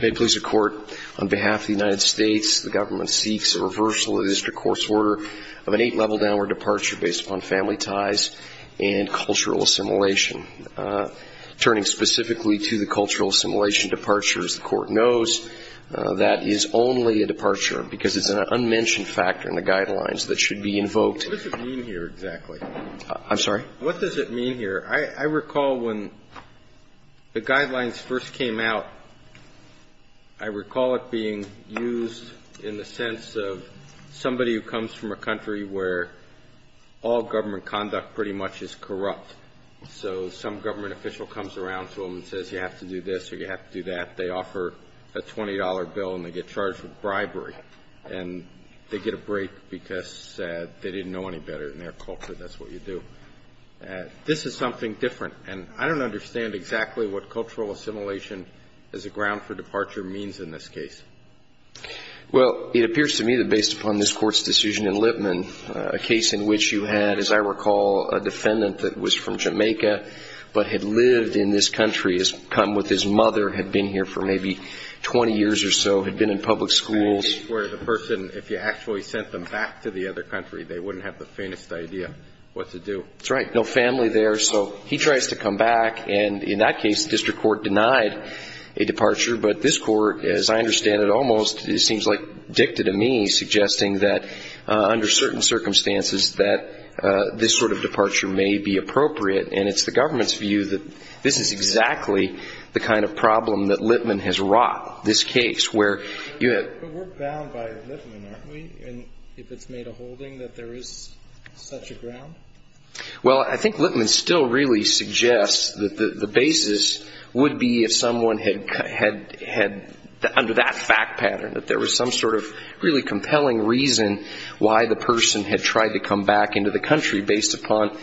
May it please the Court, on behalf of the United States, the Government seeks a reversal of the District Court's order of an eight-level downward departure based upon family ties and cultural assimilation. Turning specifically to the cultural assimilation departure, as the Court knows, that is only a departure because it's an unmentioned factor in the guidelines that should be invoked. What does it mean here, exactly? I'm sorry? What does it mean here? I recall when the guidelines first came out, I recall it being used in the sense of somebody who comes from a country where all government conduct pretty much is corrupt. So some government official comes around to them and says, you have to do this or you have to do that. They offer a $20 bill and they get charged with bribery and they get a break because they didn't know any better in their culture. That's what you do. This is something different. And I don't understand exactly what cultural assimilation as a ground for departure means in this case. Well, it appears to me that based upon this Court's decision in Lipman, a case in which you had, as I recall, a defendant that was from Jamaica but had lived in this country, had come with his mother, had been here for maybe 20 years or so, had been in public schools. Where the person, if you actually sent them back to the other country, they wouldn't have the faintest idea what to do. That's right. No family there. So he tries to come back. And in that case, the District Court denied a departure. But this Court, as I understand it almost, it seems like dicta to me, suggesting that under certain circumstances that this sort of departure may be appropriate. And it's the government's view that this is exactly the kind of problem that Lipman has wrought, this case, where you have But we're bound by Lipman, aren't we? If it's made a holding that there is such a ground? Well, I think Lipman still really suggests that the basis would be if someone had, under that fact pattern, that there was some sort of really compelling reason why the person had tried to come back into the country based upon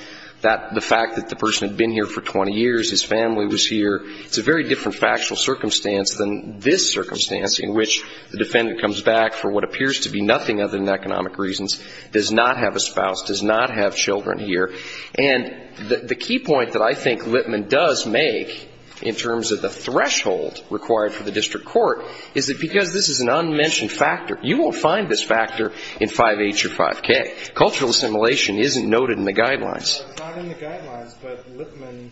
the fact that the person had been here for 20 years, his family was here. It's a very different factual circumstance than this circumstance in which the defendant comes back for what appears to be nothing other than economic reasons, does not have a spouse, does not have children here. And the key point that I think Lipman does make in terms of the threshold required for the District Court is that because this is an unmentioned factor, you won't find this Cultural assimilation isn't noted in the guidelines. It's not in the guidelines, but Lipman,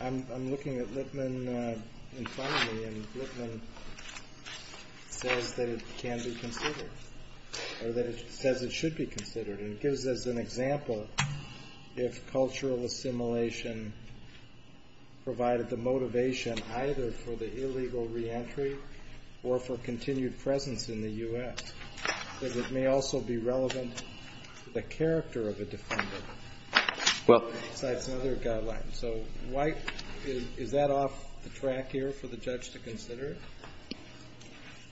I'm looking at Lipman in front of me, and Lipman says that it can be considered, or that it says it should be considered. And it gives us an example if cultural assimilation provided the motivation either for the illegal reentry or for continued presence in the U.S., that it may also be relevant to the character of a defendant besides another guideline. So why, is that off the track here for the judge to consider?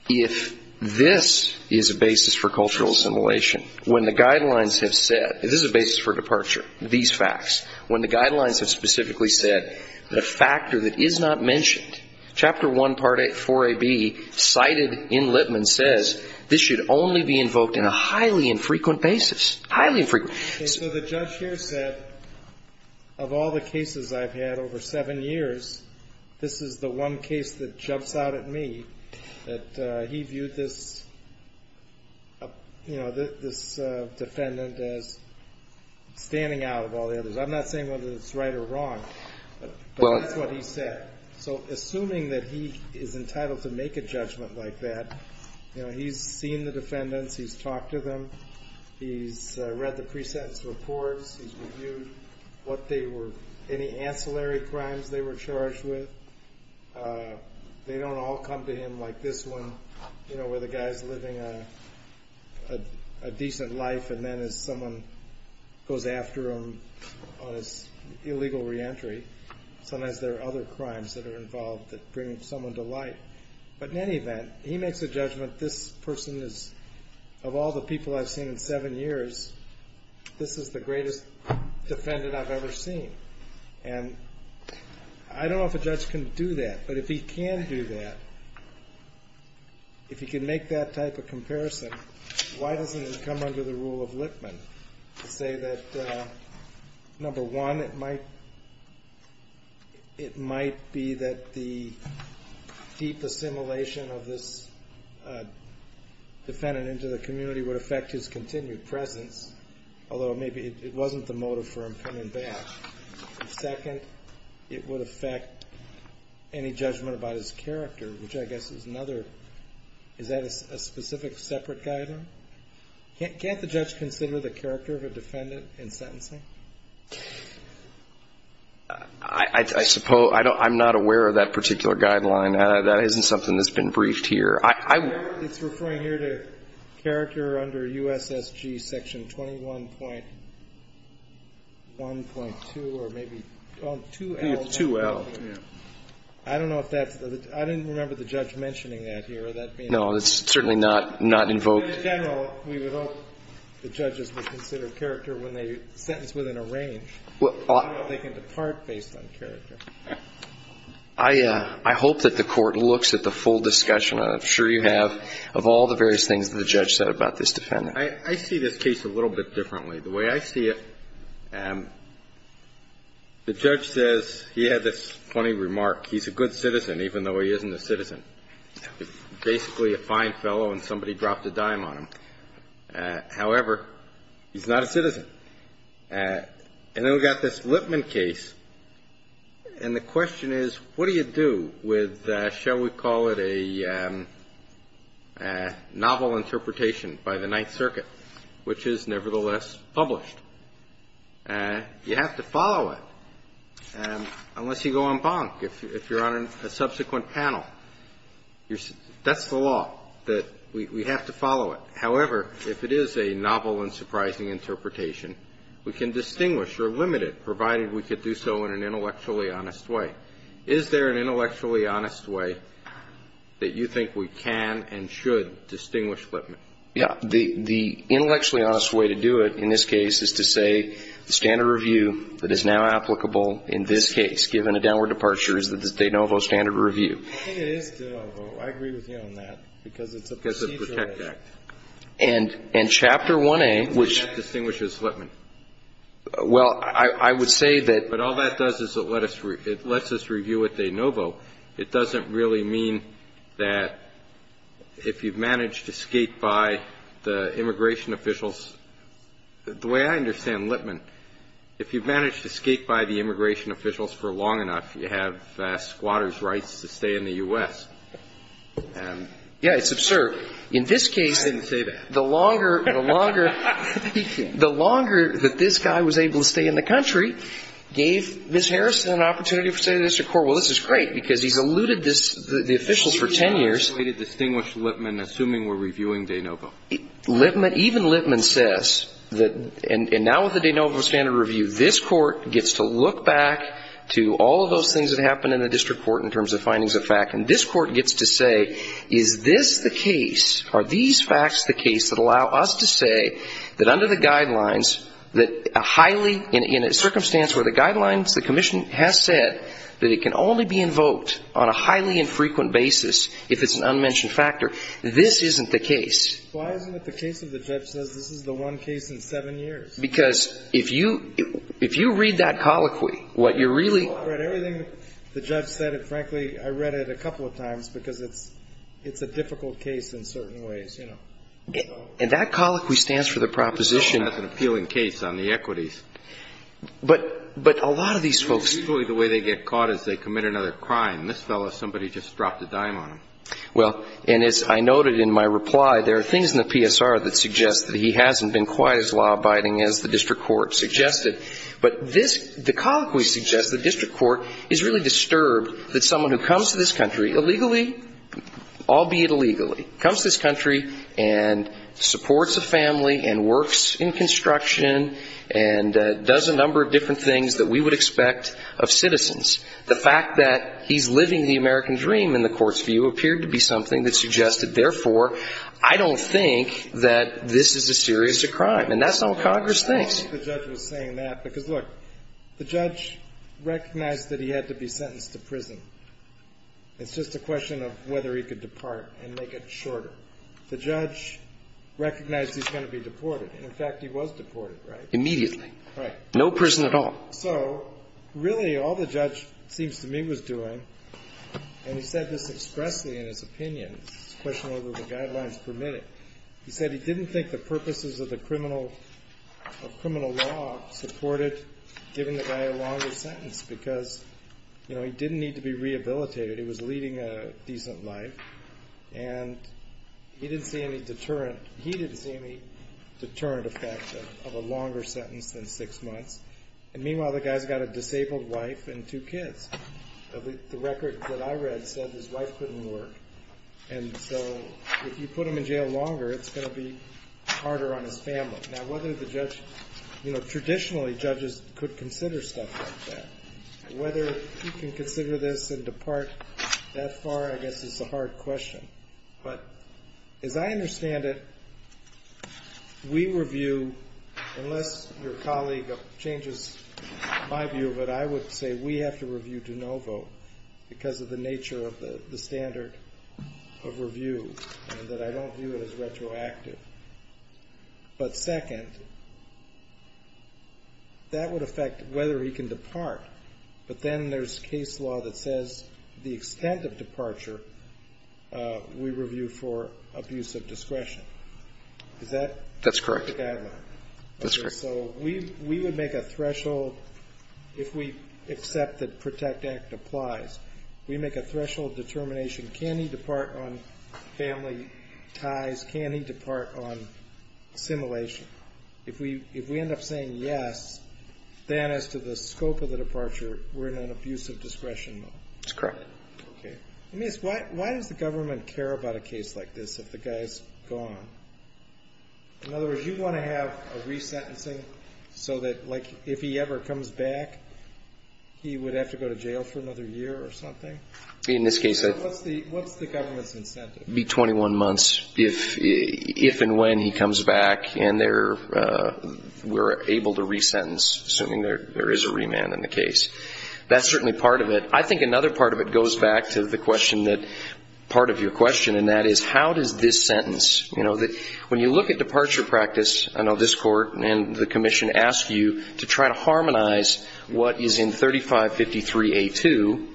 If this is a basis for cultural assimilation, when the guidelines have said, this is a basis for departure, these facts, when the guidelines have specifically said the factor that is not mentioned, Chapter 1, Part 4AB, cited in Lipman, says this should only be invoked in a highly infrequent basis. Highly infrequent. Okay, so the judge here said, of all the cases I've had over seven years, this is the one case that jumps out at me that he viewed this defendant as standing out of all the others. I'm not saying whether it's right or wrong, but that's what he said. So assuming that he is entitled to make a judgment like that, you know, he's seen the defendants, he's talked to them, he's read the pre-sentence reports, he's reviewed what they were, any ancillary crimes they were charged with. They don't all come to him like this one, you know, where the guy's living a decent life and then as someone goes after him on his illegal re-entry, sometimes there are other crimes that are involved that bring someone to light. But in any event, he makes a judgment, this person is, of all the people I've seen in seven years, this is the greatest defendant I've ever seen. And I don't know if a judge can do that, but if he can do that, if he can make that type of comparison, why doesn't it come under the rule of Lippmann to say that, number one, it might be that the deep assimilation of this defendant into the community would affect his continued presence, although maybe it would be that he would be able to make a judgment about his character, which I guess is another, is that a specific separate guideline? Can't the judge consider the character of a defendant in sentencing? I suppose, I'm not aware of that particular guideline. That isn't something that's been briefed here. It's referring here to character under USSG section 21.1.2 or maybe, oh, 2L. It's 2L, yeah. I don't know if that's, I didn't remember the judge mentioning that here. No, it's certainly not invoked. In general, we would hope the judges would consider character when they sentence within a range. They can depart based on character. I hope that the Court looks at the full discussion, I'm sure you have, of all the various things that the judge said about this defendant. I see this case a little bit differently. The way I see it, the judge says he had this funny remark, he's a good citizen, even though he isn't a citizen. He's basically a fine fellow and somebody dropped a dime on him. However, he's not a citizen. And then we've got this Lipman case, and the question is, what do you do with, shall we call it a novel interpretation by the Ninth Circuit, which is nevertheless published? You have to follow it, unless you go en banc. If you're on a subsequent panel, that's the law, that we have to follow it. However, if it is a novel and surprising interpretation, we can distinguish or limit it, provided we could do so in an intellectually honest way. Is there an intellectually honest way that you think we can and should distinguish Lipman? Yeah. The intellectually honest way to do it in this case is to say the standard review that is now applicable in this case, given a downward departure, is the de novo standard review. I think it is de novo. I agree with you on that, because it's a procedural act. Because it's a protect act. And Chapter 1A, which ---- The act distinguishes Lipman. Well, I would say that ---- But all that does is it lets us review it de novo. It doesn't really mean that if you've managed to skate by the immigration officials, the way I understand Lipman, if you've managed to skate by the immigration officials for long enough, you have squatters' rights to stay in the U.S. Yeah, it's absurd. In this case ---- I didn't say that. The longer ---- The longer that this guy was able to stay in the country gave Ms. Harrison an opportunity to stay in the district court. Well, this is great, because he's eluded this ---- the officials for ten years. He's eluded the way to distinguish Lipman, assuming we're reviewing de novo. Lipman ---- even Lipman says that ---- and now with the de novo standard review, this Court gets to look back to all of those things that happened in the district court in terms of findings of fact. And this Court gets to say, is this the case, are these facts the case that allow us to say that under the guidelines, that a highly ---- in a circumstance where the guidelines, the Commission has said that it can only be invoked on a highly infrequent basis if it's an unmentioned factor, this isn't the case. Why isn't it the case that the judge says this is the one case in seven years? Because if you read that colloquy, what you're really ---- Well, I read everything the judge said, and frankly, I read it a couple of times because it's a difficult case in certain ways, you know. And that colloquy stands for the proposition ---- It's an appealing case on the equities. But a lot of these folks ---- Usually the way they get caught is they commit another crime. This fellow, somebody just dropped a dime on him. Well, and as I noted in my reply, there are things in the PSR that suggest that he hasn't been quite as law-abiding as the district court suggested. But this ---- the colloquy suggests the district court is really disturbed that someone who comes to this country illegally, albeit illegally, comes to this country and does a number of different things that we would expect of citizens. The fact that he's living the American dream in the court's view appeared to be something that suggested, therefore, I don't think that this is a serious crime. And that's not what Congress thinks. I don't think the judge was saying that because, look, the judge recognized that he had to be sentenced to prison. It's just a question of whether he could depart and make it shorter. The judge recognized he's going to be deported. And, in fact, he was deported, right? Immediately. Right. No prison at all. So, really, all the judge, it seems to me, was doing, and he said this expressly in his opinion. It's a question of whether the guidelines permit it. He said he didn't think the purposes of the criminal ---- of criminal law supported giving the guy a longer sentence because, you know, he didn't need to be rehabilitated. He was leading a decent life. And he didn't see any deterrent. He didn't see any deterrent effect of a longer sentence than six months. And, meanwhile, the guy's got a disabled wife and two kids. The record that I read said his wife couldn't work. And so, if you put him in jail longer, it's going to be harder on his family. Now, whether the judge, you know, traditionally, judges could consider stuff like that. Whether he can consider this and depart that far, I guess, is a hard question. But, as I understand it, we review, unless your colleague changes my view of it, I would say we have to review DeNovo because of the nature of the standard of review and that I don't view it as retroactive. But, second, that would affect whether he can depart. But then there's case law that says the extent of departure we review for abuse of discretion. Is that? That's correct. So we would make a threshold if we accept that Protect Act applies. We make a threshold determination. Can he depart on family ties? Can he depart on assimilation? If we end up saying yes, then as to the scope of the departure, we're in an abuse of discretion mode. That's correct. Okay. Let me ask, why does the government care about a case like this if the guy's gone? In other words, you want to have a resentencing so that, like, if he ever comes back, he would have to go to jail for another year or something? In this case, I think. So what's the government's incentive? Be 21 months if and when he comes back and we're able to resentence, assuming there is a remand in the case. That's certainly part of it. I think another part of it goes back to the question that, part of your question, and that is how does this sentence, you know, when you look at departure practice, I know this Court and the Commission ask you to try to harmonize what is in 3553A2,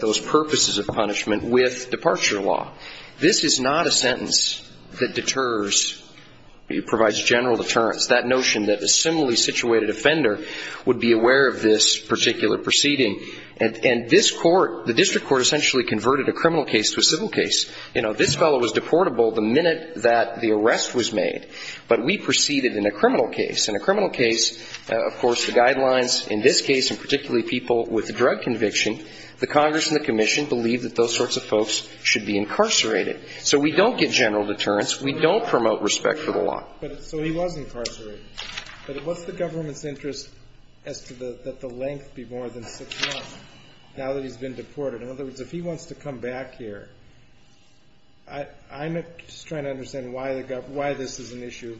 those purposes of punishment, with departure law. This is not a sentence that deters, provides general deterrence, that notion that a similarly situated offender would be aware of this particular proceeding. And this Court, the district court essentially converted a criminal case to a civil case. You know, this fellow was deportable the minute that the arrest was made, but we proceeded in a criminal case. In a criminal case, of course, the guidelines in this case, and particularly people with drug conviction, the Congress and the Commission believe that those sorts of folks should be incarcerated. So we don't get general deterrence. We don't promote respect for the law. So he was incarcerated. But what's the government's interest as to the length be more than six months now that he's been deported? In other words, if he wants to come back here, I'm just trying to understand why this is an issue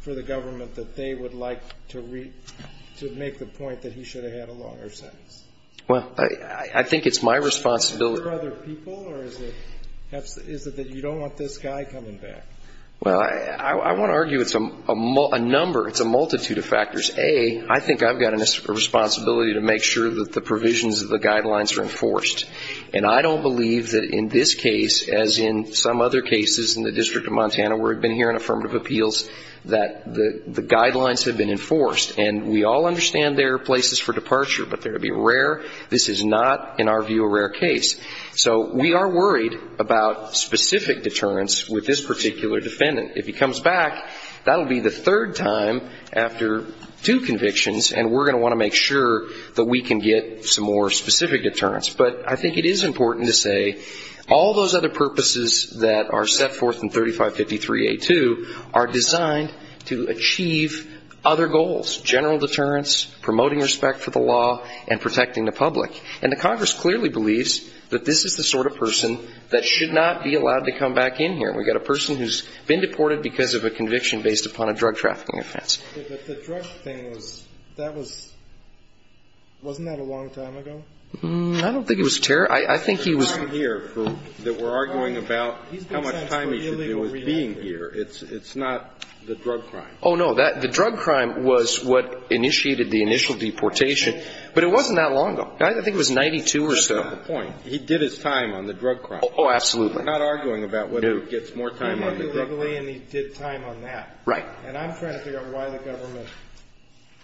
for the government, that they would like to make the point that he should have had a longer sentence. Well, I think it's my responsibility. Is it for other people, or is it that you don't want this guy coming back? Well, I want to argue it's a number, it's a multitude of factors. A, I think I've got a responsibility to make sure that the provisions of the guidelines are enforced. And I don't believe that in this case, as in some other cases in the District of Montana where we've been hearing affirmative appeals, that the guidelines have been enforced. And we all understand there are places for departure, but they're going to be rare. This is not, in our view, a rare case. So we are worried about specific deterrence with this particular defendant. If he comes back, that will be the third time after two convictions, and we're going to want to make sure that we can get some more specific deterrence. But I think it is important to say all those other purposes that are set forth in 3553A2 are designed to achieve other goals, general deterrence, promoting respect for the law, and protecting the public. And the Congress clearly believes that this is the sort of person that should not be allowed to come back in here. We've got a person who's been deported because of a conviction based upon a drug trafficking offense. But the drug thing was, that was, wasn't that a long time ago? I don't think it was. I think he was. The time here that we're arguing about how much time he should do is being here. It's not the drug crime. Oh, no. The drug crime was what initiated the initial deportation. But it wasn't that long ago. I think it was in 92 or so. That's not the point. He did his time on the drug crime. Oh, absolutely. I'm not arguing about whether he gets more time on the drug crime. He did it legally, and he did time on that. Right. And I'm trying to figure out why the government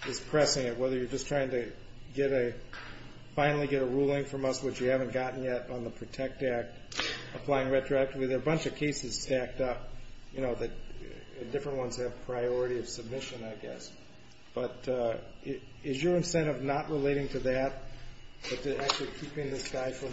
is pressing it, whether you're just trying to get a, finally get a ruling from us, which you haven't gotten yet, on the PROTECT Act, applying retroactively. There are a bunch of cases stacked up, you know, that different ones have priority of submission, I guess. But is your incentive not relating to that, but to actually keeping this guy from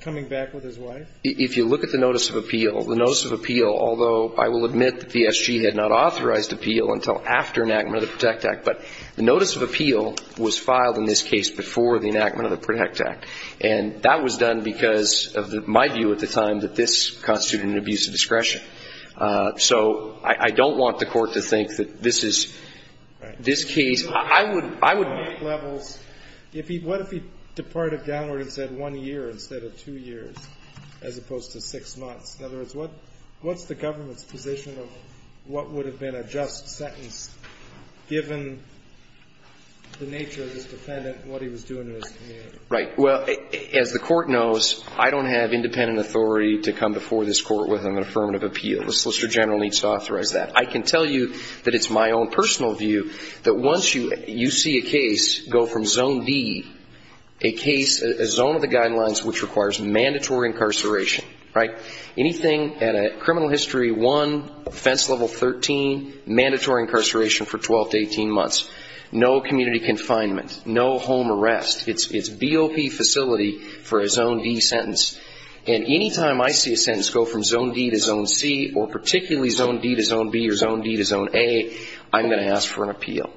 coming back with his wife? If you look at the notice of appeal, the notice of appeal, although I will admit that the SG had not authorized appeal until after enactment of the PROTECT Act, but the notice of appeal was filed in this case before the enactment of the PROTECT Act. And that was done because of my view at the time that this constituted an abuse of discretion. So I don't want the Court to think that this is this case. I would make levels. If he, what if he departed downward and said one year instead of two years, as opposed to six months? In other words, what's the government's position of what would have been a just sentence given the nature of this defendant and what he was doing in his community? Right. Well, as the Court knows, I don't have independent authority to come before this Court with an affirmative appeal. The Solicitor General needs to authorize that. I can tell you that it's my own personal view that once you see a case go from zone D, a case, a zone of the guidelines which requires mandatory incarceration, right, anything at a criminal history one, offense level 13, mandatory incarceration for 12 to 18 months, no community confinement, no home arrest. It's BOP facility for a zone D sentence. And any time I see a sentence go from zone D to zone C or particularly zone D to zone B or zone D to zone A, I'm going to ask for an appeal.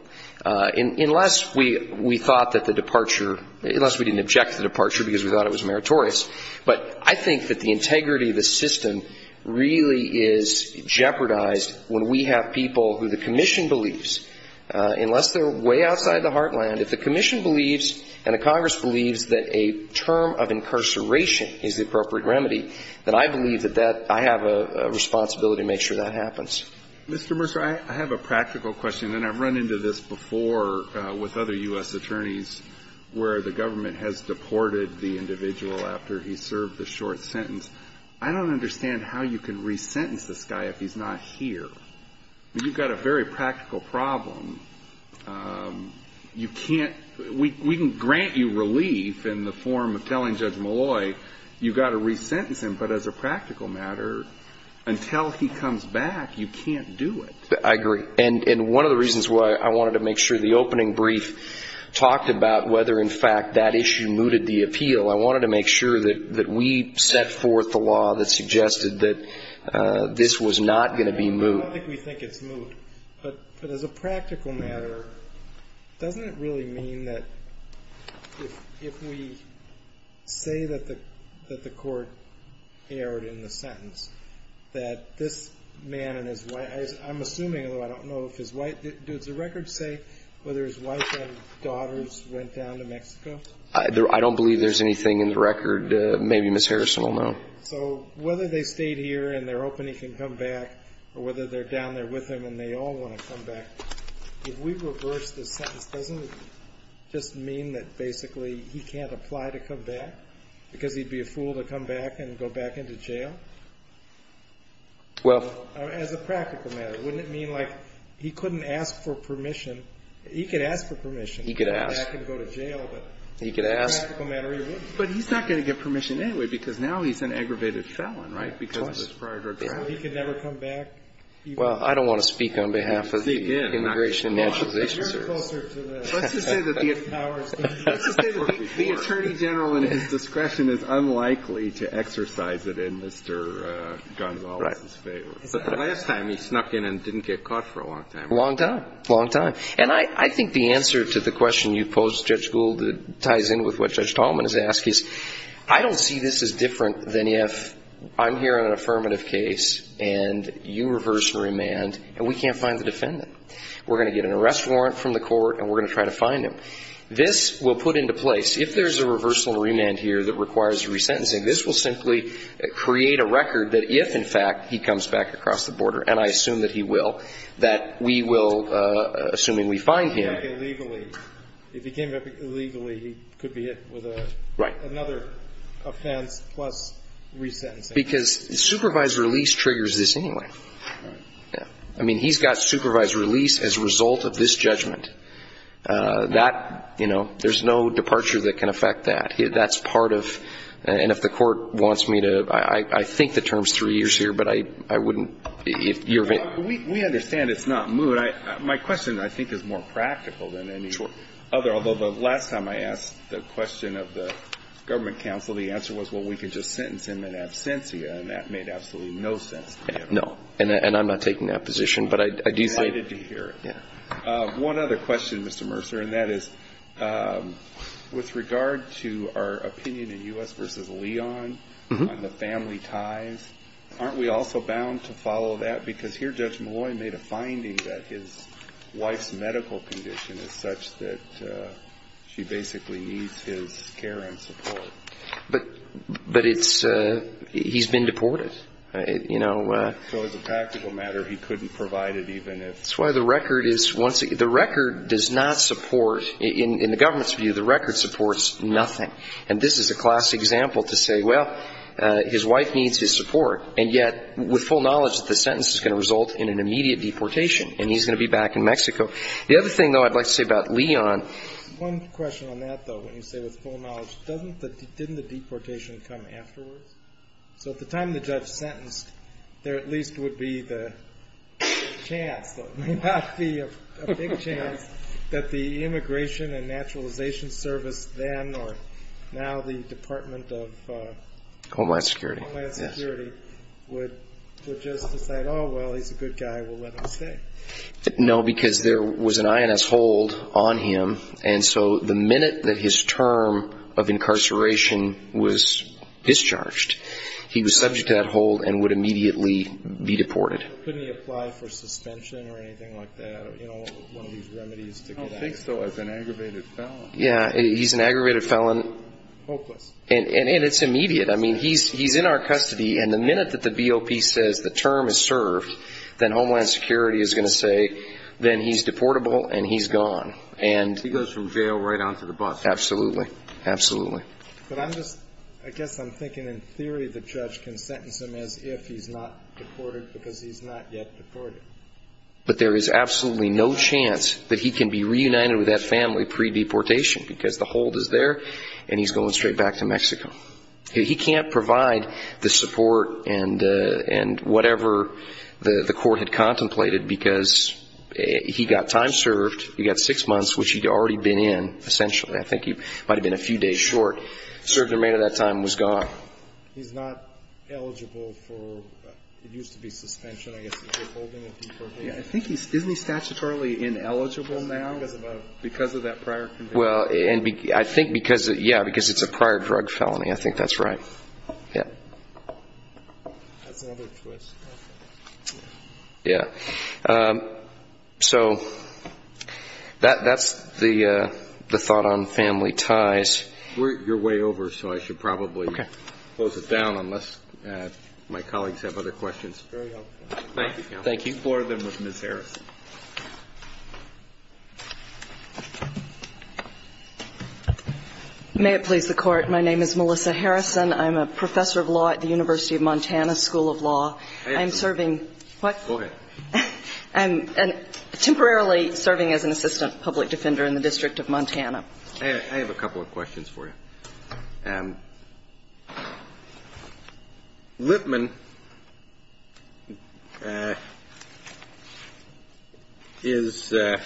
Unless we thought that the departure, unless we didn't object to the departure because we thought it was meritorious. But I think that the integrity of the system really is jeopardized when we have people who the commission believes, unless they're way outside the heartland, if the commission believes and the Congress believes that a term of incarceration is the appropriate remedy, that I believe that that, I have a responsibility to make sure that happens. Mr. Mercer, I have a practical question, and I've run into this before with other U.S. attorneys where the government has deported the individual after he served the short sentence. I don't understand how you can resentence this guy if he's not here. I mean, you've got a very practical problem. You can't, we can grant you relief in the form of telling Judge Malloy you've got to resentence him, but as a practical matter, until he comes back, you can't do it. I agree. And one of the reasons why I wanted to make sure the opening brief talked about whether, in fact, that issue mooted the appeal, I wanted to make sure that we set forth the law that suggested that this was not going to be moved. I don't think we think it's moved. But as a practical matter, doesn't it really mean that if we say that the court erred in the sentence, that this man and his wife, I'm assuming, although I don't know if his wife, does the record say whether his wife and daughters went down to Mexico? I don't believe there's anything in the record. Maybe Ms. Harrison will know. So whether they stayed here and they're hoping he can come back or whether they're down there with him and they all want to come back, if we reverse the sentence, doesn't it just mean that basically he can't apply to come back because he'd be a fool to come back and go back into jail? Well. As a practical matter, wouldn't it mean like he couldn't ask for permission? He could ask for permission. He could ask. He could go back and go to jail, but as a practical matter, he wouldn't. But he's not going to get permission anyway because now he's an aggravated felon, right, because of his prior drug trafficking? He could never come back. Well, I don't want to speak on behalf of the Immigration and Naturalization Service. Let's just say that the attorney general in his discretion is unlikely to exercise it in Mr. Gonzales's favor. But the last time he snuck in and didn't get caught for a long time. A long time. A long time. And I think the answer to the question you posed, Judge Gould, ties in with what Judge Tallman has asked, is I don't see this as different than if I'm hearing an affirmative case and you reverse and remand and we can't find the defendant. We're going to get an arrest warrant from the court and we're going to try to find him. This will put into place, if there's a reversal and remand here that requires resentencing, this will simply create a record that if, in fact, he comes back across the border, and I assume that he will, that we will, assuming we find him. If he came back illegally, he could be hit with another offense plus resentencing. Because supervised release triggers this anyway. I mean, he's got supervised release as a result of this judgment. That, you know, there's no departure that can affect that. And if the court wants me to, I think the term's three years here, but I wouldn't. We understand it's not moot. My question, I think, is more practical than any other. Although the last time I asked the question of the government counsel, the answer was, well, we could just sentence him in absentia, and that made absolutely no sense to me at all. No, and I'm not taking that position. I'm excited to hear it. One other question, Mr. Mercer, and that is with regard to our opinion in U.S. v. Leon on the family ties, aren't we also bound to follow that? Because here Judge Malloy made a finding that his wife's medical condition is such that she basically needs his care and support. But he's been deported, you know. So as a practical matter, he couldn't provide it even if... No, no, the record is once... The record does not support... In the government's view, the record supports nothing. And this is a classic example to say, well, his wife needs his support, and yet with full knowledge that the sentence is going to result in an immediate deportation, and he's going to be back in Mexico. The other thing, though, I'd like to say about Leon. One question on that, though, when you say with full knowledge... Didn't the deportation come afterwards? So at the time the judge sentenced, there at least would be the chance, there may not be a big chance that the Immigration and Naturalization Service then or now the Department of... Homeland Security. Homeland Security would just decide, oh, well, he's a good guy, we'll let him stay. No, because there was an INS hold on him, and so the minute that his term of incarceration was discharged, he was subject to that hold and would immediately be deported. Couldn't he apply for suspension or anything like that, you know, one of these remedies to get out? I don't think so. It's an aggravated felon. Yeah, he's an aggravated felon. Hopeless. And it's immediate. I mean, he's in our custody, and the minute that the BOP says the term is served, then Homeland Security is going to say, then he's deportable and he's gone. He goes from jail right onto the bus. Absolutely. Absolutely. But I'm just, I guess I'm thinking in theory the judge can sentence him as if he's not deported because he's not yet deported. But there is absolutely no chance that he can be reunited with that family pre-deportation He can't provide the support and whatever the court had contemplated, because he got time served. He got six months, which he'd already been in, essentially. I think he might have been a few days short. The remainder of that time was gone. He's not eligible for, it used to be suspension. I guess he's holding a deportation. I think he's, isn't he statutorily ineligible now because of that prior conviction? Well, I think because, yeah, because it's a prior drug felony, I think that's right. Yeah. That's another twist. Yeah. So that's the thought on family ties. You're way over, so I should probably close it down unless my colleagues have other questions. Very helpful. Thank you, counsel. Thank you. I have a question for Ms. Harrison. I'm looking forward to working more with Ms. Harrison. May it please the Court. My name is Melissa Harrison. I'm a professor of law at the University of Montana School of Law. I'm serving what? Go ahead. I'm temporarily serving as an assistant public defender in the District of Montana. I have a couple of questions for you. Lipman is a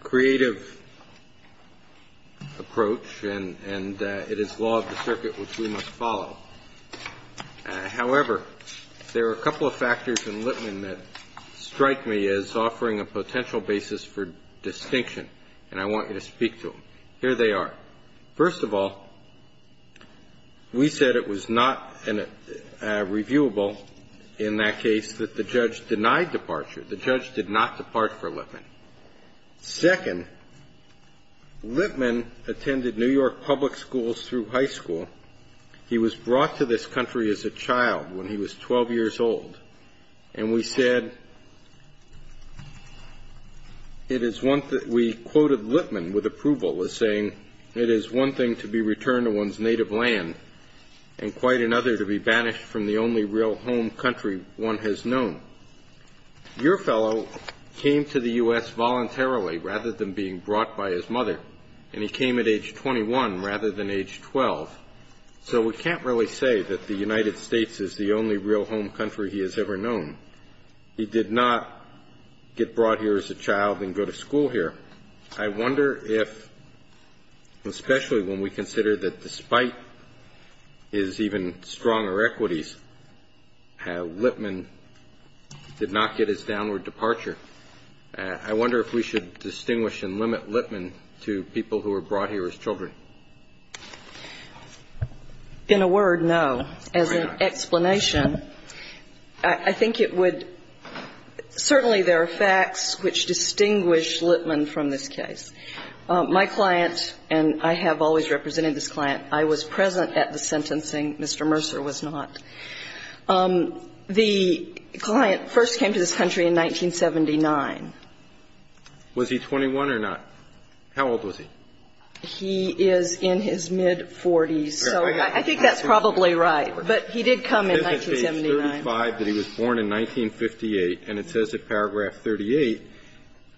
creative approach, and it is law of the circuit, which we must follow. However, there are a couple of factors in Lipman that strike me as offering a potential basis for distinction, and I want you to speak to them. Here they are. First of all, we said it was not reviewable in that case that the judge denied departure. The judge did not depart for Lipman. Second, Lipman attended New York public schools through high school. He was brought to this country as a child when he was 12 years old. And we said it is one thing to be returned to one's native land and quite another to be banished from the only real home country one has known. Your fellow came to the U.S. voluntarily rather than being brought by his mother, and he came at age 21 rather than age 12. So we can't really say that the United States is the only real home country he has ever known. He did not get brought here as a child and go to school here. I wonder if, especially when we consider that despite his even stronger equities, Lipman did not get his downward departure. I wonder if we should distinguish and limit Lipman to people who were brought here as children. In a word, no. As an explanation, I think it would – certainly there are facts which distinguish Lipman from this case. My client, and I have always represented this client, I was present at the sentencing. Mr. Mercer was not. The client first came to this country in 1979. Was he 21 or not? How old was he? He is in his mid-40s. So I think that's probably right. But he did come in 1979. This is page 35 that he was born in 1958. And it says in paragraph 38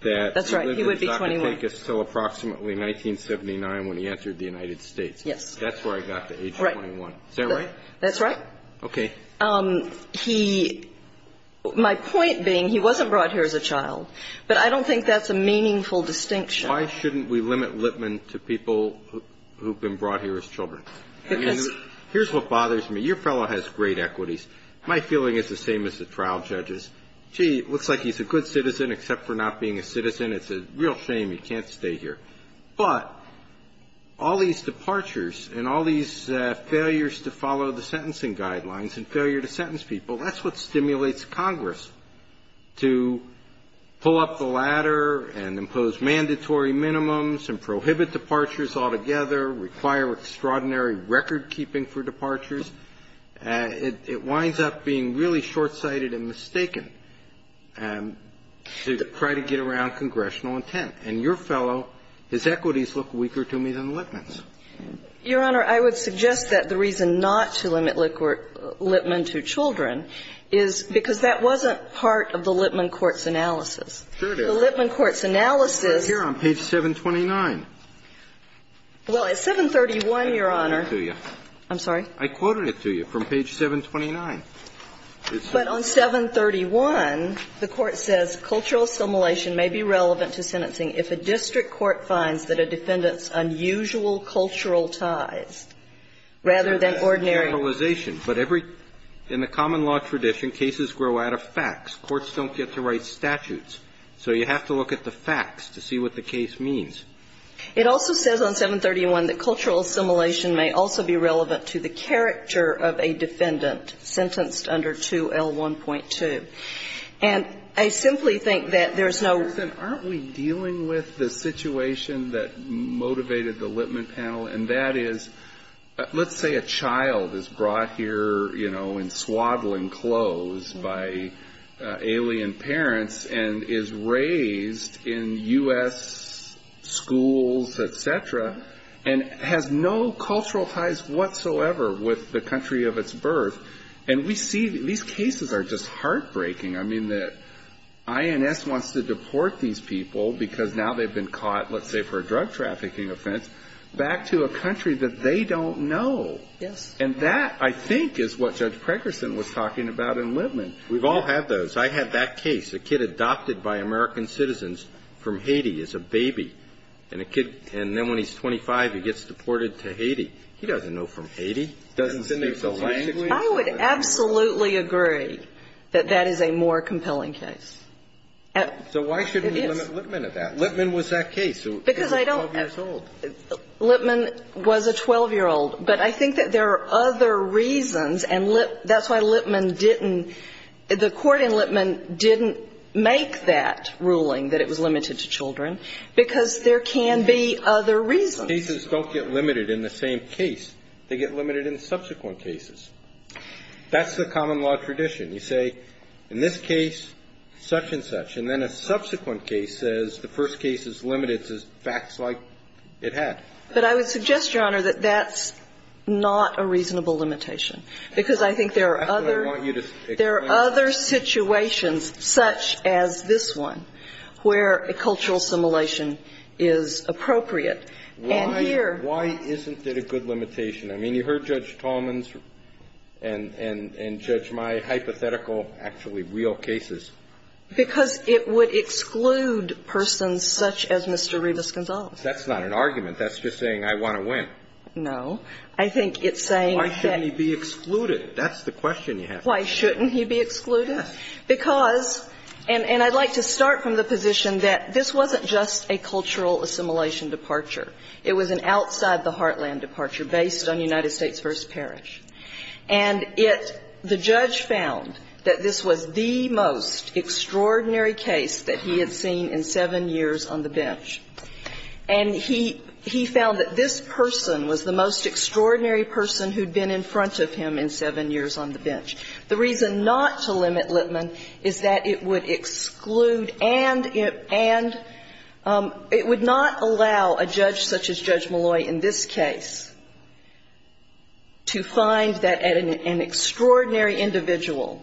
that he lived in Socrates until approximately 1979 when he entered the United States. Yes. That's where I got to age 21. Is that right? That's right. Okay. He – my point being he wasn't brought here as a child. But I don't think that's a meaningful distinction. Why shouldn't we limit Lipman to people who have been brought here as children? Because – Here's what bothers me. Your fellow has great equities. My feeling is the same as the trial judge's. Gee, it looks like he's a good citizen except for not being a citizen. It's a real shame he can't stay here. But all these departures and all these failures to follow the sentencing guidelines and failure to sentence people, that's what stimulates Congress to pull up the ladder and impose mandatory minimums and prohibit departures altogether, require extraordinary recordkeeping for departures. It winds up being really short-sighted and mistaken to try to get around congressional intent. And your fellow, his equities look weaker to me than Lipman's. Your Honor, I would suggest that the reason not to limit Lipman to children is because that wasn't part of the Lipman court's analysis. Sure it is. The Lipman court's analysis – It's right here on page 729. Well, at 731, Your Honor – I quoted it to you. I'm sorry? I quoted it to you from page 729. But on 731, the Court says cultural assimilation may be relevant to sentencing if a district court finds that a defendant's unusual cultural ties rather than ordinary – Generalization. But every – in the common law tradition, cases grow out of facts. Courts don't get to write statutes. So you have to look at the facts to see what the case means. It also says on 731 that cultural assimilation may also be relevant to the character of a defendant sentenced under 2L1.2. And I simply think that there's no – Your Honor, aren't we dealing with the situation that motivated the Lipman panel? And that is, let's say a child is brought here, you know, in swaddling clothes by alien parents and is raised in U.S. schools, et cetera, and has no cultural ties whatsoever with the country of its birth. And we see – these cases are just heartbreaking. I mean, the INS wants to deport these people because now they've been caught, let's say, for a drug trafficking offense, back to a country that they don't know. Yes. And that, I think, is what Judge Preckerson was talking about in Lipman. We've all had those. I had that case. A kid adopted by American citizens from Haiti is a baby. And then when he's 25, he gets deported to Haiti. He doesn't know from Haiti. He doesn't speak the language. I would absolutely agree that that is a more compelling case. It is. So why shouldn't we limit Lipman to that? Lipman was that case. Because I don't – He was 12 years old. Lipman was a 12-year-old. But I think that there are other reasons, and that's why Lipman didn't – the court in Lipman didn't make that ruling that it was limited to children, because there can be other reasons. Cases don't get limited in the same case. They get limited in subsequent cases. That's the common law tradition. You say, in this case, such and such. And then a subsequent case says the first case is limited to facts like it had. But I would suggest, Your Honor, that that's not a reasonable limitation, because I think there are other – That's what I want you to explain. There are other situations, such as this one, where a cultural assimilation is appropriate. And here – Why isn't it a good limitation? I mean, you heard Judge Tallman's and, Judge, my hypothetical, actually real cases. Because it would exclude persons such as Mr. Rivas-Gonzalez. That's not an argument. That's just saying I want to win. No. I think it's saying that – Why shouldn't he be excluded? That's the question you have. Why shouldn't he be excluded? Because – and I'd like to start from the position that this wasn't just a cultural assimilation departure. It was an outside-the-heartland departure based on United States v. Parrish. And it – the judge found that this was the most extraordinary case that he had seen in seven years on the bench. And he found that this person was the most extraordinary person who'd been in front of him in seven years on the bench. The reason not to limit Lippman is that it would exclude and it would not allow a judge such as Judge Malloy in this case to find that an extraordinary individual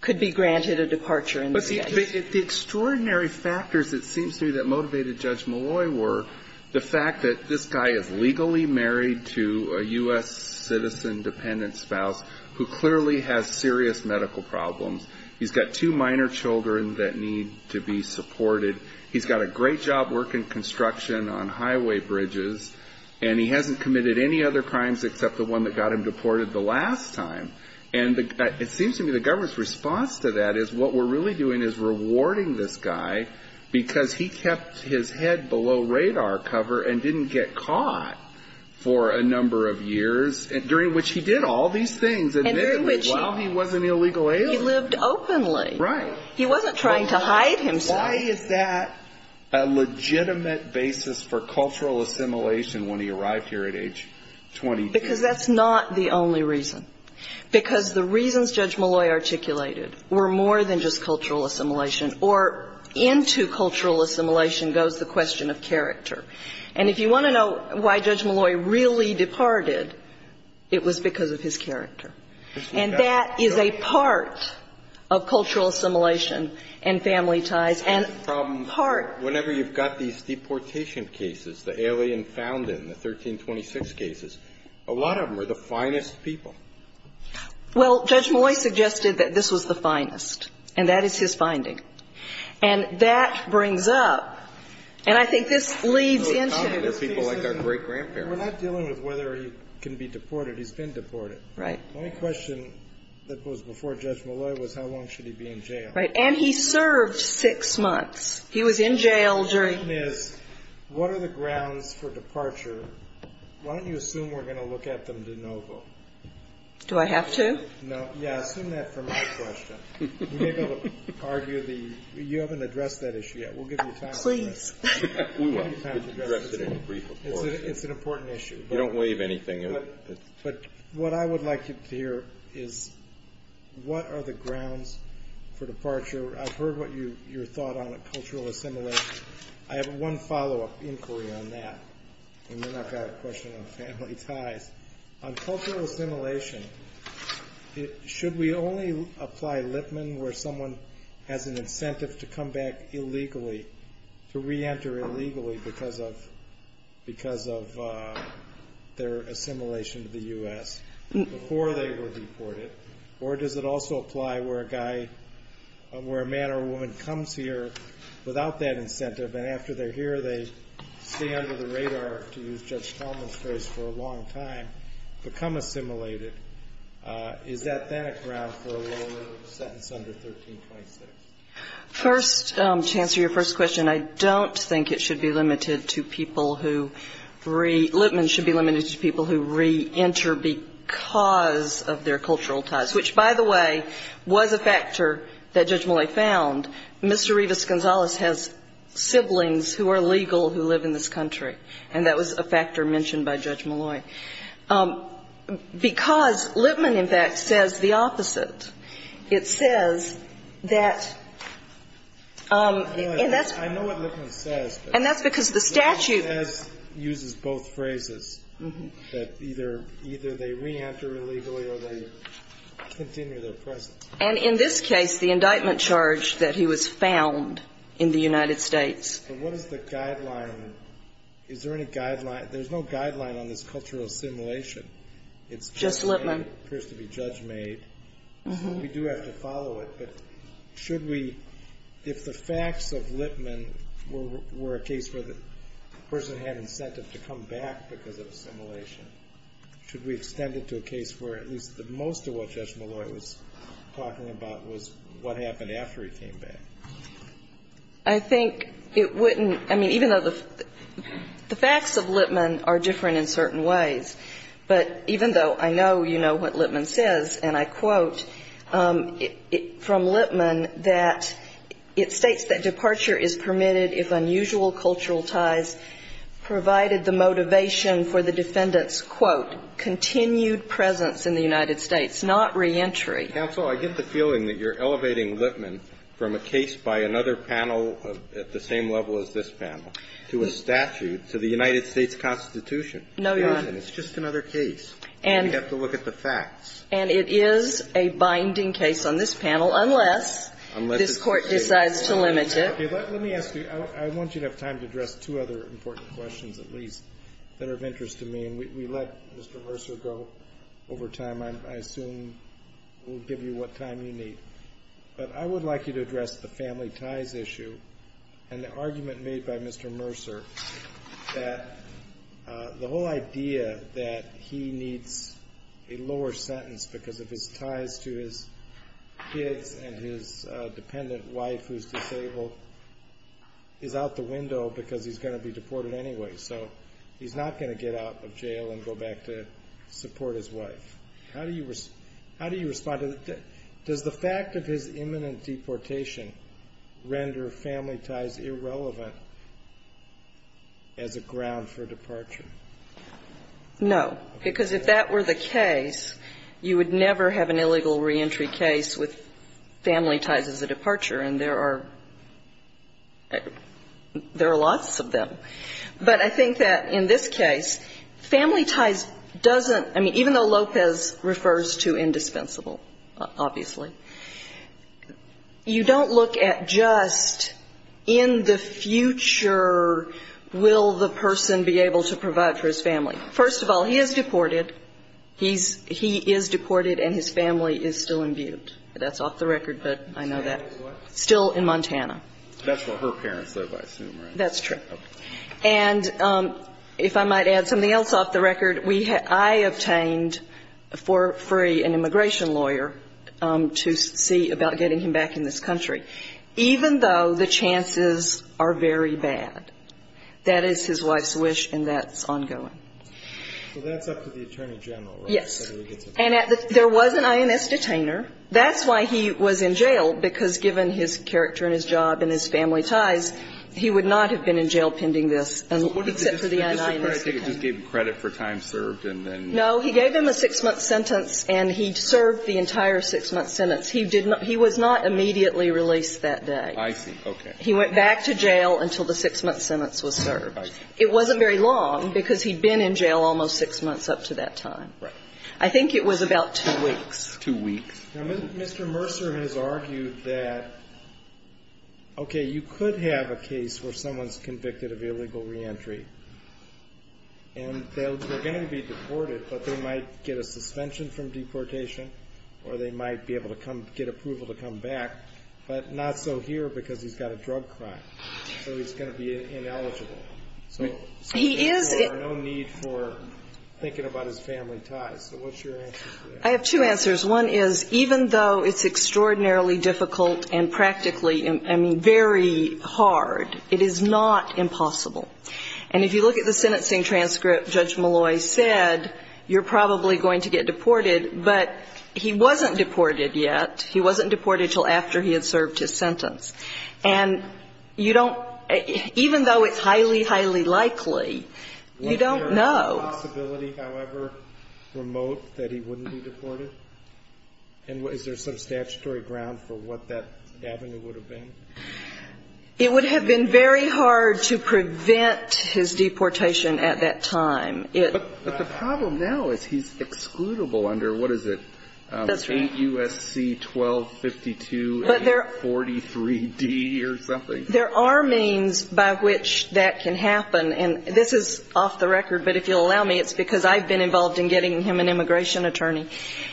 could be granted a departure in this case. But the extraordinary factors, it seems to me, that motivated Judge Malloy were the This guy is legally married to a U.S. citizen-dependent spouse who clearly has serious medical problems. He's got two minor children that need to be supported. He's got a great job working construction on highway bridges. And he hasn't committed any other crimes except the one that got him deported the last time. And it seems to me the government's response to that is what we're really doing is rewarding this guy because he kept his head below radar cover and didn't get caught for a number of years, during which he did all these things, admittedly, while he was an illegal alien. He lived openly. Right. He wasn't trying to hide himself. Why is that a legitimate basis for cultural assimilation when he arrived here at age 22? Because that's not the only reason. Because the reasons Judge Malloy articulated were more than just cultural assimilation or into cultural assimilation goes the question of character. And if you want to know why Judge Malloy really departed, it was because of his character. And that is a part of cultural assimilation and family ties. And part of the problem is whenever you've got these deportation cases, the alien found in, the 1326 cases, a lot of them are the finest people. And that is his finding. And that brings up, and I think this leads into the reason. We're not dealing with whether he can be deported. He's been deported. Right. The only question that was before Judge Malloy was how long should he be in jail. Right. And he served six months. He was in jail during. The question is, what are the grounds for departure? Why don't you assume we're going to look at them de novo? Do I have to? No. Yeah, assume that for my question. We may be able to argue the, you haven't addressed that issue yet. We'll give you time to address it. Please. We will. We'll address it in a brief report. It's an important issue. You don't waive anything. But what I would like you to hear is what are the grounds for departure. I've heard what your thought on cultural assimilation. I have one follow-up inquiry on that. And then I've got a question on family ties. On cultural assimilation, should we only apply Lipman where someone has an incentive to come back illegally, to reenter illegally because of their assimilation to the U.S. before they were deported? Or does it also apply where a man or a woman comes here without that incentive and after they're here they stay under the radar, to use Judge Talman's phrase, for a long time, become assimilated? Is that then a ground for a lower sentence under 1326? First, to answer your first question, I don't think it should be limited to people who re, Lipman should be limited to people who reenter because of their cultural ties. Which, by the way, was a factor that Judge Millay found. Mr. Rivas-Gonzalez has siblings who are legal who live in this country. And that was a factor mentioned by Judge Millay. Because Lipman, in fact, says the opposite. It says that and that's because the statute uses both phrases, that either they reenter illegally or they continue their presence. And in this case, the indictment charge that he was found in the United States. But what is the guideline? Is there any guideline? There's no guideline on this cultural assimilation. It's just what appears to be judge made. We do have to follow it. But should we, if the facts of Lipman were a case where the person had incentive to come back because of assimilation, should we extend it to a case where at least most of what Judge Millay was talking about was what happened after he came back? I think it wouldn't – I mean, even though the facts of Lipman are different in certain ways, but even though I know you know what Lipman says, and I quote from Lipman that it states that departure is permitted if unusual cultural ties provided the motivation for the defendant's, quote, continued presence in the United States, not reentry. Counsel, I get the feeling that you're elevating Lipman from a case by another panel at the same level as this panel to a statute to the United States Constitution. No, Your Honor. And it's just another case. And we have to look at the facts. And it is a binding case on this panel unless this Court decides to limit it. Okay. Let me ask you. I want you to have time to address two other important questions at least that are of interest to me. And we let Mr. Mercer go over time. I assume we'll give you what time you need. But I would like you to address the family ties issue and the argument made by Mr. Mercer that the whole idea that he needs a lower sentence because of his ties to his kids and his dependent wife who's disabled is out the window because he's going to be deported anyway. So he's not going to get out of jail and go back to support his wife. How do you respond to that? Does the fact of his imminent deportation render family ties irrelevant as a ground for departure? No. Because if that were the case, you would never have an illegal reentry case with family ties as a departure. And there are lots of them. But I think that in this case, family ties doesn't, I mean, even though Lopez refers to indispensable, obviously, you don't look at just in the future will the person be able to provide for his family. First of all, he is deported. He is deported and his family is still imbued. That's off the record, but I know that. Still in Montana. That's where her parents live, I assume, right? That's true. And if I might add something else off the record, I obtained for free an immigration lawyer to see about getting him back in this country, even though the chances are very bad. That is his wife's wish, and that's ongoing. So that's up to the Attorney General, right? Yes. And there was an INS detainer. That's why he was in jail, because given his character and his job and his family ties, he would not have been in jail pending this, except for the INS detainer. He just gave him credit for time served and then? No. He gave him a 6-month sentence and he served the entire 6-month sentence. He did not he was not immediately released that day. I see. Okay. He went back to jail until the 6-month sentence was served. It wasn't very long, because he'd been in jail almost 6 months up to that time. I think it was about 2 weeks. 2 weeks. Now, Mr. Mercer has argued that, okay, you could have a case where someone's convicted of illegal reentry, and they're going to be deported, but they might get a suspension from deportation or they might be able to come get approval to come back, but not so here because he's got a drug crime. So he's going to be ineligible. He is. So there's no need for thinking about his family ties. So what's your answer to that? I have two answers. One is, even though it's extraordinarily difficult and practically, I mean, very hard, it is not impossible. And if you look at the sentencing transcript, Judge Malloy said you're probably going to get deported, but he wasn't deported yet. He wasn't deported until after he had served his sentence. And you don't even though it's highly, highly likely, you don't know. Is there a possibility, however, remote that he wouldn't be deported? And is there some statutory ground for what that avenue would have been? It would have been very hard to prevent his deportation at that time. But the problem now is he's excludable under, what is it, 8 U.S.C. 1252-843D or something? There are means by which that can happen. And this is off the record, but if you'll allow me, it's because I've been involved in getting him an immigration attorney.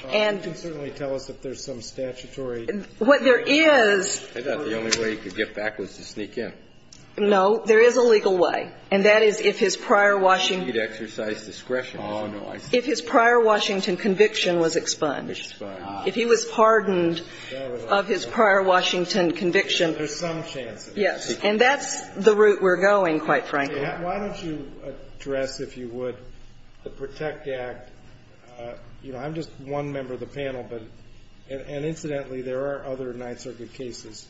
And you can certainly tell us if there's some statutory. What there is. I thought the only way he could get back was to sneak in. No. There is a legal way. And that is if his prior Washington. He'd exercise discretion. Oh, no. If his prior Washington conviction was expunged. Expunged. If he was pardoned of his prior Washington conviction. There's some chance of that. Yes. And that's the route we're going, quite frankly. Why don't you address, if you would, the PROTECT Act? You know, I'm just one member of the panel. And incidentally, there are other Ninth Circuit cases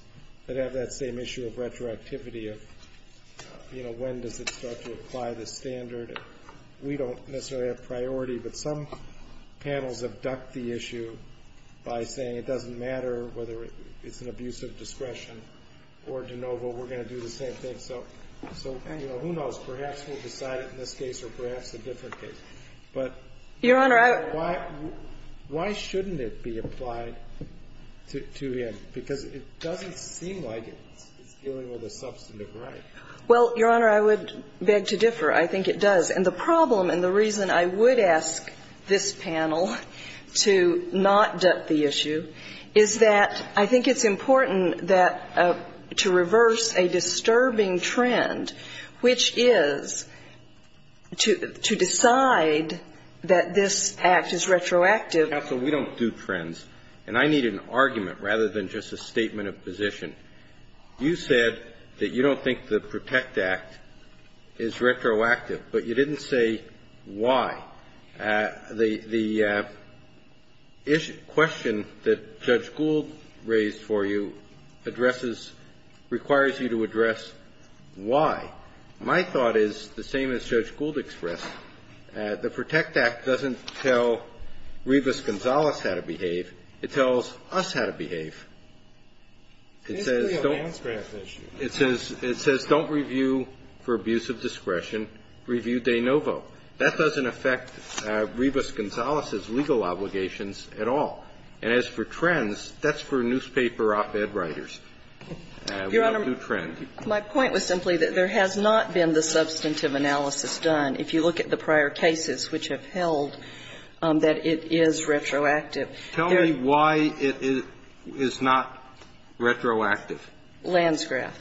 that have that same issue of retroactivity of, you know, when does it start to apply the standard. We don't necessarily have priority, but some panels have ducked the issue by saying it doesn't matter whether it's an abuse of discretion or de novo. We're going to do the same thing. So, you know, who knows? Perhaps we'll decide it in this case or perhaps a different case. But why shouldn't it be applied to him? Because it doesn't seem like it's dealing with a substantive right. Well, Your Honor, I would beg to differ. I think it does. And the problem and the reason I would ask this panel to not duck the issue is that I think it's important that to reverse a disturbing trend, which is to decide that this Act is retroactive. Counsel, we don't do trends. And I need an argument rather than just a statement of position. You said that you don't think the PROTECT Act is retroactive. But you didn't say why. The question that Judge Gould raised for you addresses, requires you to address why. My thought is the same as Judge Gould expressed. The PROTECT Act doesn't tell Rivas-Gonzalez how to behave. It tells us how to behave. It says don't review for abuse of discretion. Review de novo. That doesn't affect Rivas-Gonzalez's legal obligations at all. And as for trends, that's for newspaper op-ed writers. We don't do trends. Your Honor, my point was simply that there has not been the substantive analysis done, if you look at the prior cases which have held that it is retroactive. Tell me why it is not retroactive. Landscraft.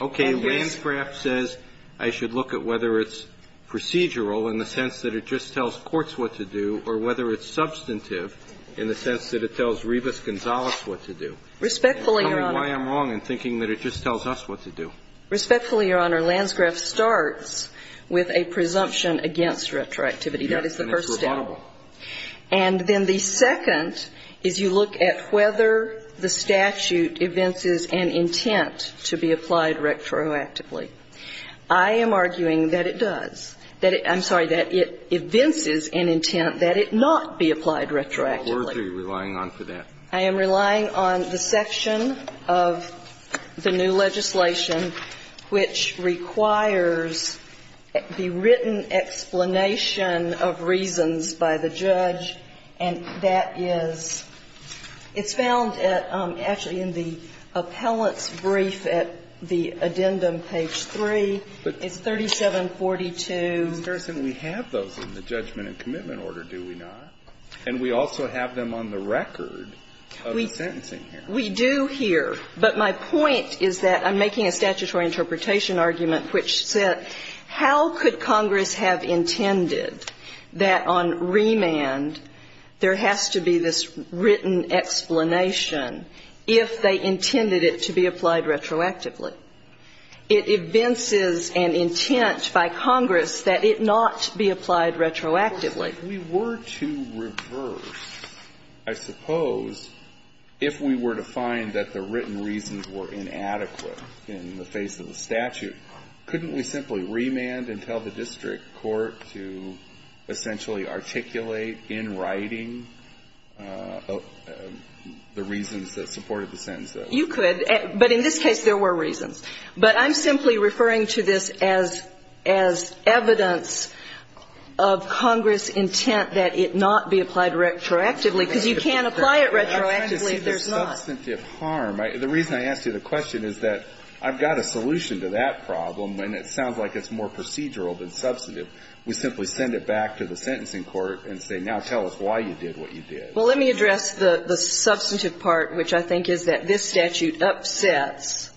Okay. Landscraft says I should look at whether it's procedural in the sense that it just tells courts what to do or whether it's substantive in the sense that it tells Rivas-Gonzalez what to do. Respectfully, Your Honor. Tell me why I'm wrong in thinking that it just tells us what to do. Respectfully, Your Honor, Landscraft starts with a presumption against retroactivity. That is the first step. And it's rebuttable. And then the second is you look at whether the statute evinces an intent to be applied retroactively. I am arguing that it does. I'm sorry, that it evinces an intent that it not be applied retroactively. What words are you relying on for that? I am relying on the section of the new legislation which requires the written explanation of reasons by the judge. And that is, it's found actually in the appellant's brief at the addendum, page 3. It's 3742. But, Ms. Garrison, we have those in the judgment and commitment order, do we not? And we also have them on the record of the sentencing here. We do here. But my point is that I'm making a statutory interpretation argument which said how could Congress have intended that on remand there has to be this written explanation if they intended it to be applied retroactively? It evinces an intent by Congress that it not be applied retroactively. We were to reverse, I suppose, if we were to find that the written reasons were to essentially articulate in writing the reasons that supported the sentence. You could. But in this case, there were reasons. But I'm simply referring to this as evidence of Congress' intent that it not be applied retroactively, because you can't apply it retroactively if there's not. I'm trying to see the substantive harm. The reason I asked you the question is that I've got a solution to that problem and it sounds like it's more procedural than substantive. We simply send it back to the sentencing court and say, now tell us why you did what you did. Well, let me address the substantive part, which I think is that this statute upsets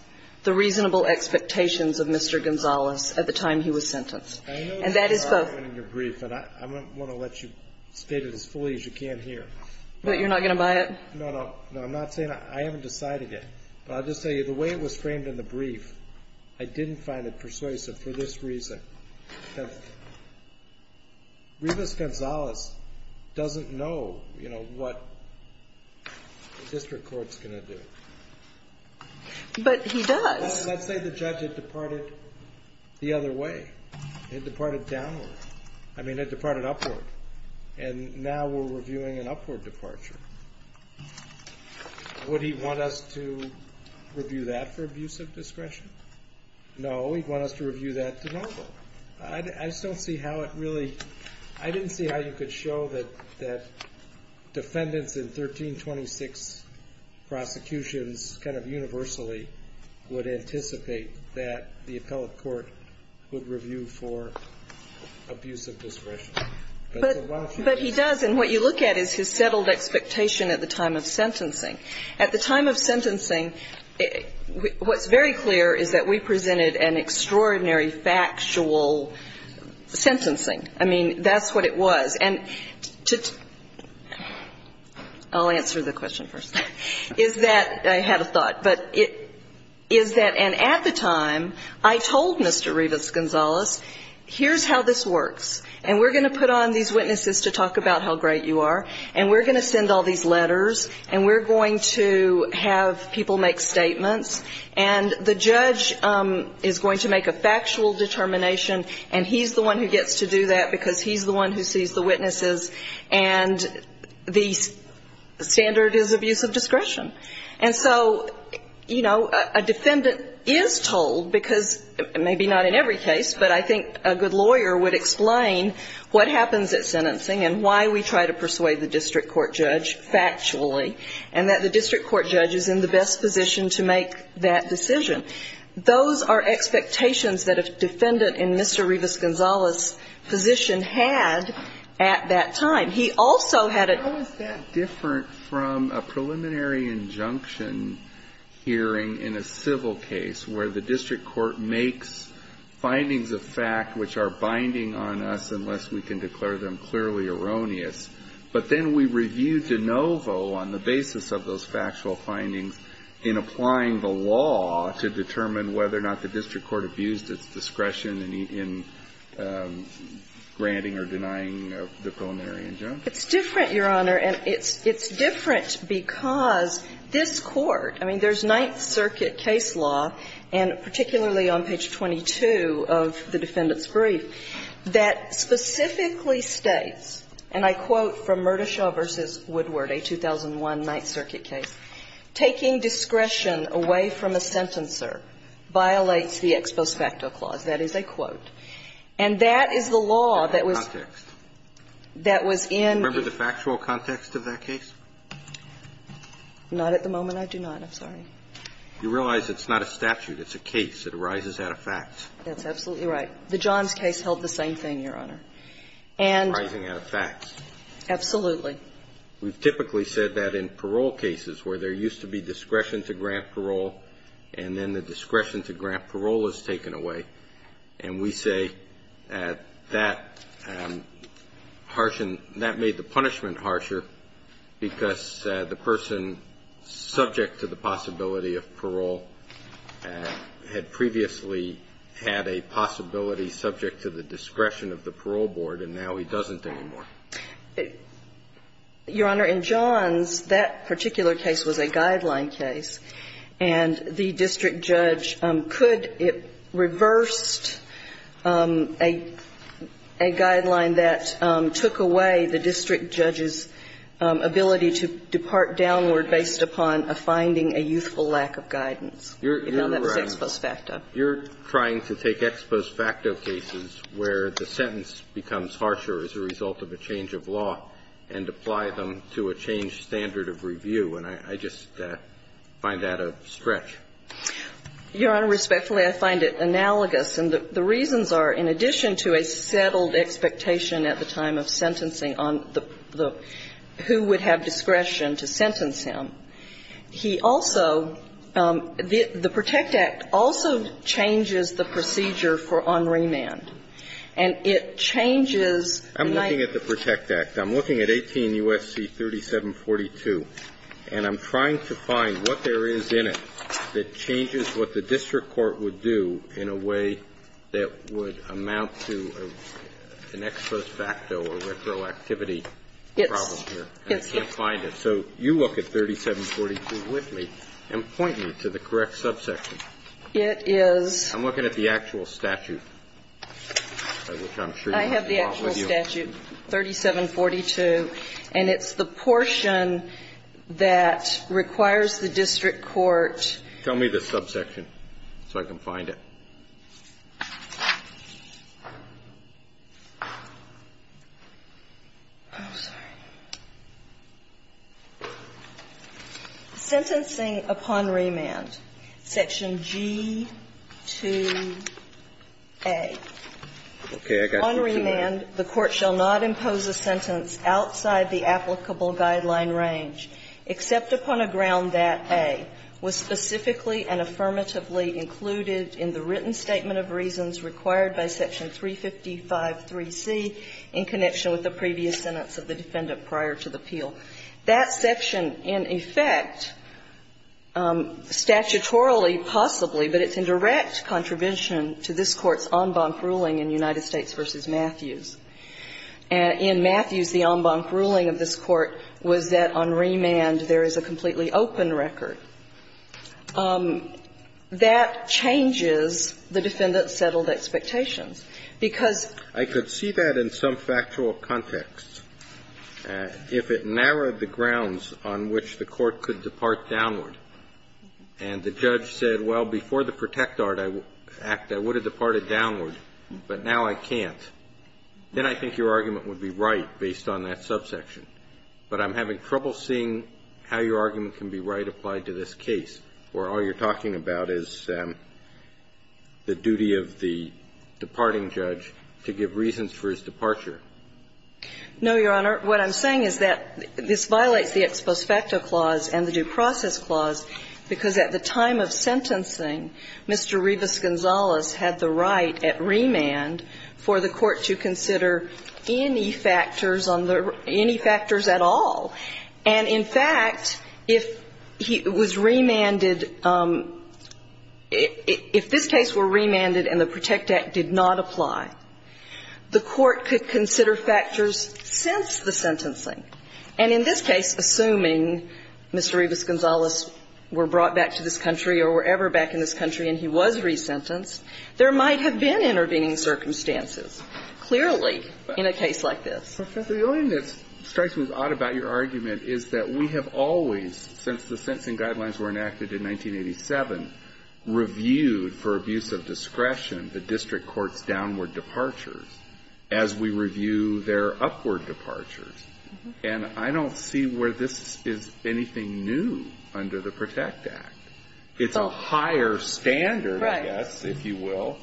the reasonable expectations of Mr. Gonzales at the time he was sentenced. And that is both of them. I'm not going to let you state it as fully as you can here. But you're not going to buy it? No, no. No, I'm not saying that. I haven't decided it. But I'll just tell you, the way it was framed in the brief, I didn't find it persuasive for this reason. Because Rivas-Gonzales doesn't know what the district court's going to do. But he does. Let's say the judge had departed the other way. It departed downward. I mean, it departed upward. And now we're reviewing an upward departure. Would he want us to review that for abuse of discretion? No, he'd want us to review that to normal. I just don't see how it really – I didn't see how you could show that defendants in 1326 prosecutions kind of universally would anticipate that the appellate court would review for abuse of discretion. But he does. And what you look at is his settled expectation at the time of sentencing. At the time of sentencing, what's very clear is that we presented an extraordinary factual sentencing. I mean, that's what it was. And to – I'll answer the question first. Is that – I had a thought. But is that – and at the time, I told Mr. Rivas-Gonzales, here's how this works, and we're going to put on these witnesses to talk about how great you are, and we're going to send all these letters, and we're going to have people make statements, and the judge is going to make a factual determination, and he's the one who gets to do that because he's the one who sees the witnesses, and the standard is abuse of discretion. And so, you know, a defendant is told, because maybe not in every case, but I think a good lawyer would explain what happens at sentencing and why we try to persuade the district court judge factually, and that the district court judge is in the best position to make that decision. Those are expectations that a defendant in Mr. Rivas-Gonzales' position had at that time. He also had a – But how is that different from a preliminary injunction hearing in a civil case where the district court makes findings of fact which are binding on us unless we can declare them clearly erroneous, but then we review de novo on the basis of those factual findings in applying the law to determine whether or not the district court abused its discretion in granting or denying the preliminary injunction? It's different, Your Honor, and it's different because this Court – I mean, there's a Ninth Circuit case law, and particularly on page 22 of the defendant's brief, that specifically states, and I quote from Murdishow v. Woodward, a 2001 Ninth Circuit case, "...taking discretion away from a sentencer violates the ex post facto clause." That is a quote. And that is the law that was – That context. That was in – Remember the factual context of that case? Not at the moment, I do not. I'm sorry. You realize it's not a statute. It's a case. It arises out of facts. That's absolutely right. The Johns case held the same thing, Your Honor. And – Arising out of facts. Absolutely. We've typically said that in parole cases where there used to be discretion to grant parole, and then the discretion to grant parole is taken away, and we say that that harshened – that made the punishment harsher because the person subject to the possibility of parole had previously had a possibility subject to the discretion of the parole board, and now he doesn't anymore. Your Honor, in Johns, that particular case was a guideline case. And the district judge could have reversed a guideline that took away the district judge's ability to depart downward based upon a finding, a youthful lack of guidance, even though that was ex post facto. You're trying to take ex post facto cases where the sentence becomes harsher as a result of a change of law and apply them to a changed standard of review, and I just find that a stretch. Your Honor, respectfully, I find it analogous. And the reasons are, in addition to a settled expectation at the time of sentencing on the – who would have discretion to sentence him, he also – the PROTECT Act also changes the procedure for on remand, and it changes the night – I'm looking at the PROTECT Act. I'm looking at 18 U.S.C. 3742, and I'm trying to find what there is in it that changes what the district court would do in a way that would amount to an ex post facto or retroactivity problem here. Yes. I can't find it. So you look at 3742 with me and point me to the correct subsection. It is – I'm looking at the actual statute. I have the actual statute, 3742, and it's the portion that requires the district court – Tell me the subsection so I can find it. I'm sorry. Sentencing upon remand, section G2A. Okay. I got G2A. On remand, the court shall not impose a sentence outside the applicable guideline range except upon a ground that A was specifically and affirmatively included in the written statement of reasons required by section 355.3c in connection with the previous sentence of the defendant prior to the appeal. That section, in effect, statutorily possibly, but it's in direct contribution to this Court's en banc ruling in United States v. Matthews. In Matthews, the en banc ruling of this Court was that on remand there is a completely open record. That changes the defendant's settled expectations because – I could see that in some factual context. If it narrowed the grounds on which the court could depart downward and the judge said, well, before the Protect Art Act, I would have departed downward, but now I can't, then I think your argument would be right based on that subsection. But I'm having trouble seeing how your argument can be right applied to this case where all you're talking about is the duty of the departing judge to give reasons for his departure. No, Your Honor. What I'm saying is that this violates the ex post facto clause and the due process clause because at the time of sentencing, Mr. Rivas-Gonzalez had the right at remand for the court to consider any factors on the – any factors at all. And in fact, if he was remanded – if this case were remanded and the Protect Act did not apply, the court could consider factors since the sentencing. And in this case, assuming Mr. Rivas-Gonzalez were brought back to this country or were ever back in this country and he was resentenced, there might have been intervening circumstances, clearly, in a case like this. Professor, the only thing that strikes me as odd about your argument is that we have always, since the sentencing guidelines were enacted in 1987, reviewed for abuse of discretion the district court's downward departures as we review their upward departures. And I don't see where this is anything new under the Protect Act. It's a higher standard, I guess, if you will.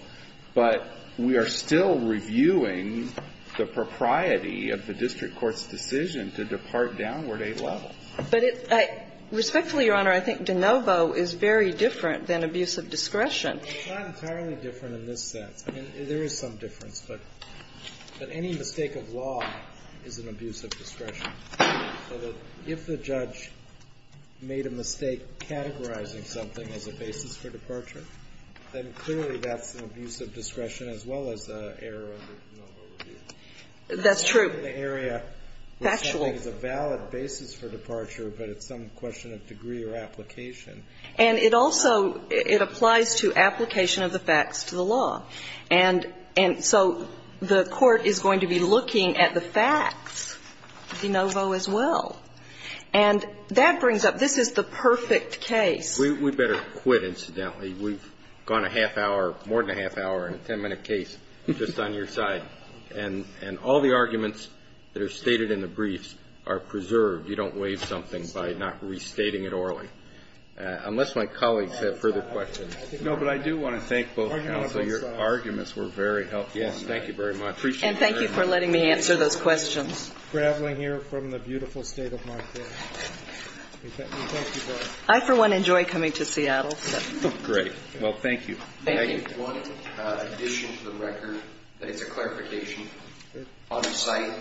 Right. But we are still reviewing the propriety of the district court's decision to depart downward a level. But it – respectfully, Your Honor, I think de novo is very different than abuse of discretion. It's not entirely different in this sense. I mean, there is some difference. But any mistake of law is an abuse of discretion. So that if the judge made a mistake categorizing something as a basis for departure, then clearly that's an abuse of discretion as well as an error under de novo review. That's true. The area is a valid basis for departure, but it's some question of degree or application. And it also – it applies to application of the facts to the law. And so the court is going to be looking at the facts de novo as well. And that brings up – this is the perfect case. We'd better quit, incidentally. We've gone a half hour, more than a half hour, in a 10-minute case just on your side. And all the arguments that are stated in the briefs are preserved. You don't waive something by not restating it orally. Unless my colleagues have further questions. No, but I do want to thank both counsel. Your arguments were very helpful. Yes. Thank you very much. And thank you for letting me answer those questions. I, for one, enjoy coming to Seattle. Great. Well, thank you. Thank you. I have one addition to the record that is a clarification on the site.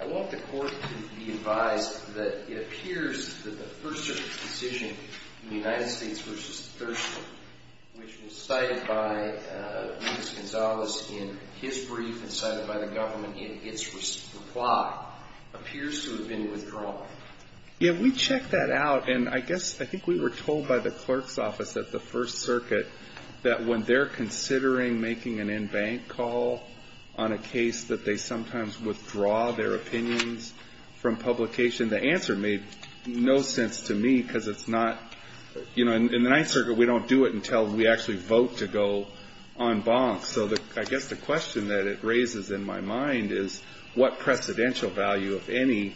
I want the court to be advised that it appears that the First Circuit's decision in the United States v. Thurston, which was cited by Luis Gonzalez in his brief and cited by the government in its reply, appears to have been withdrawn. Yeah, we checked that out. And I guess – I think we were told by the clerk's office at the First Circuit that when they're considering making an in-bank call on a case that they sometimes withdraw their opinions from publication, the answer made no sense to me because it's not – you know, in the Ninth Circuit, we don't do it until we actually vote to go en banc. So I guess the question that it raises in my mind is what precedential value, if any,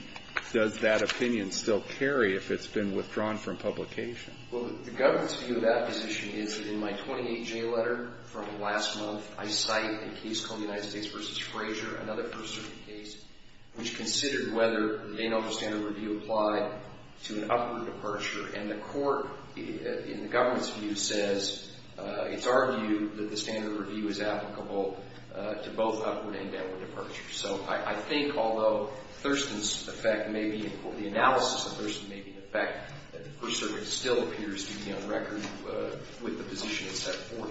does that opinion still carry if it's been withdrawn from publication? Well, the government's view of that position is that in my 28-J letter from last month, I cite a case called the United States v. Frazier, another First Circuit case, which considered whether the Dano standard review applied to an upward departure. And the court, in the government's view, says – it's our view that the standard review is applicable to both upward and downward departure. So I think although Thurston's effect may be – the analysis of Thurston may be the effect that the First Circuit still appears to be on record with the position set forth.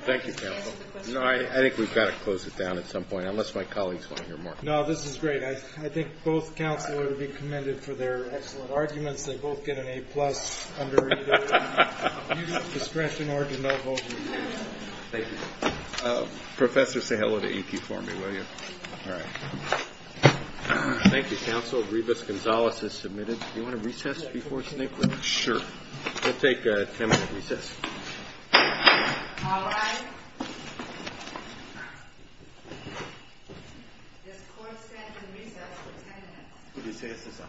Thank you, counsel. No, I think we've got to close it down at some point, unless my colleagues want to hear more. No, this is great. I think both counsel would be commended for their excellent arguments. They both get an A-plus under either discretion or denouement. Thank you. Professor, say hello to EQ for me, will you? All right. Thank you, counsel. Revis Gonzales is submitted. Do you want to recess before Snigdra? Sure. We'll take a 10-minute recess. All right. This court stands in recess for 10 minutes. Recess is adjourned.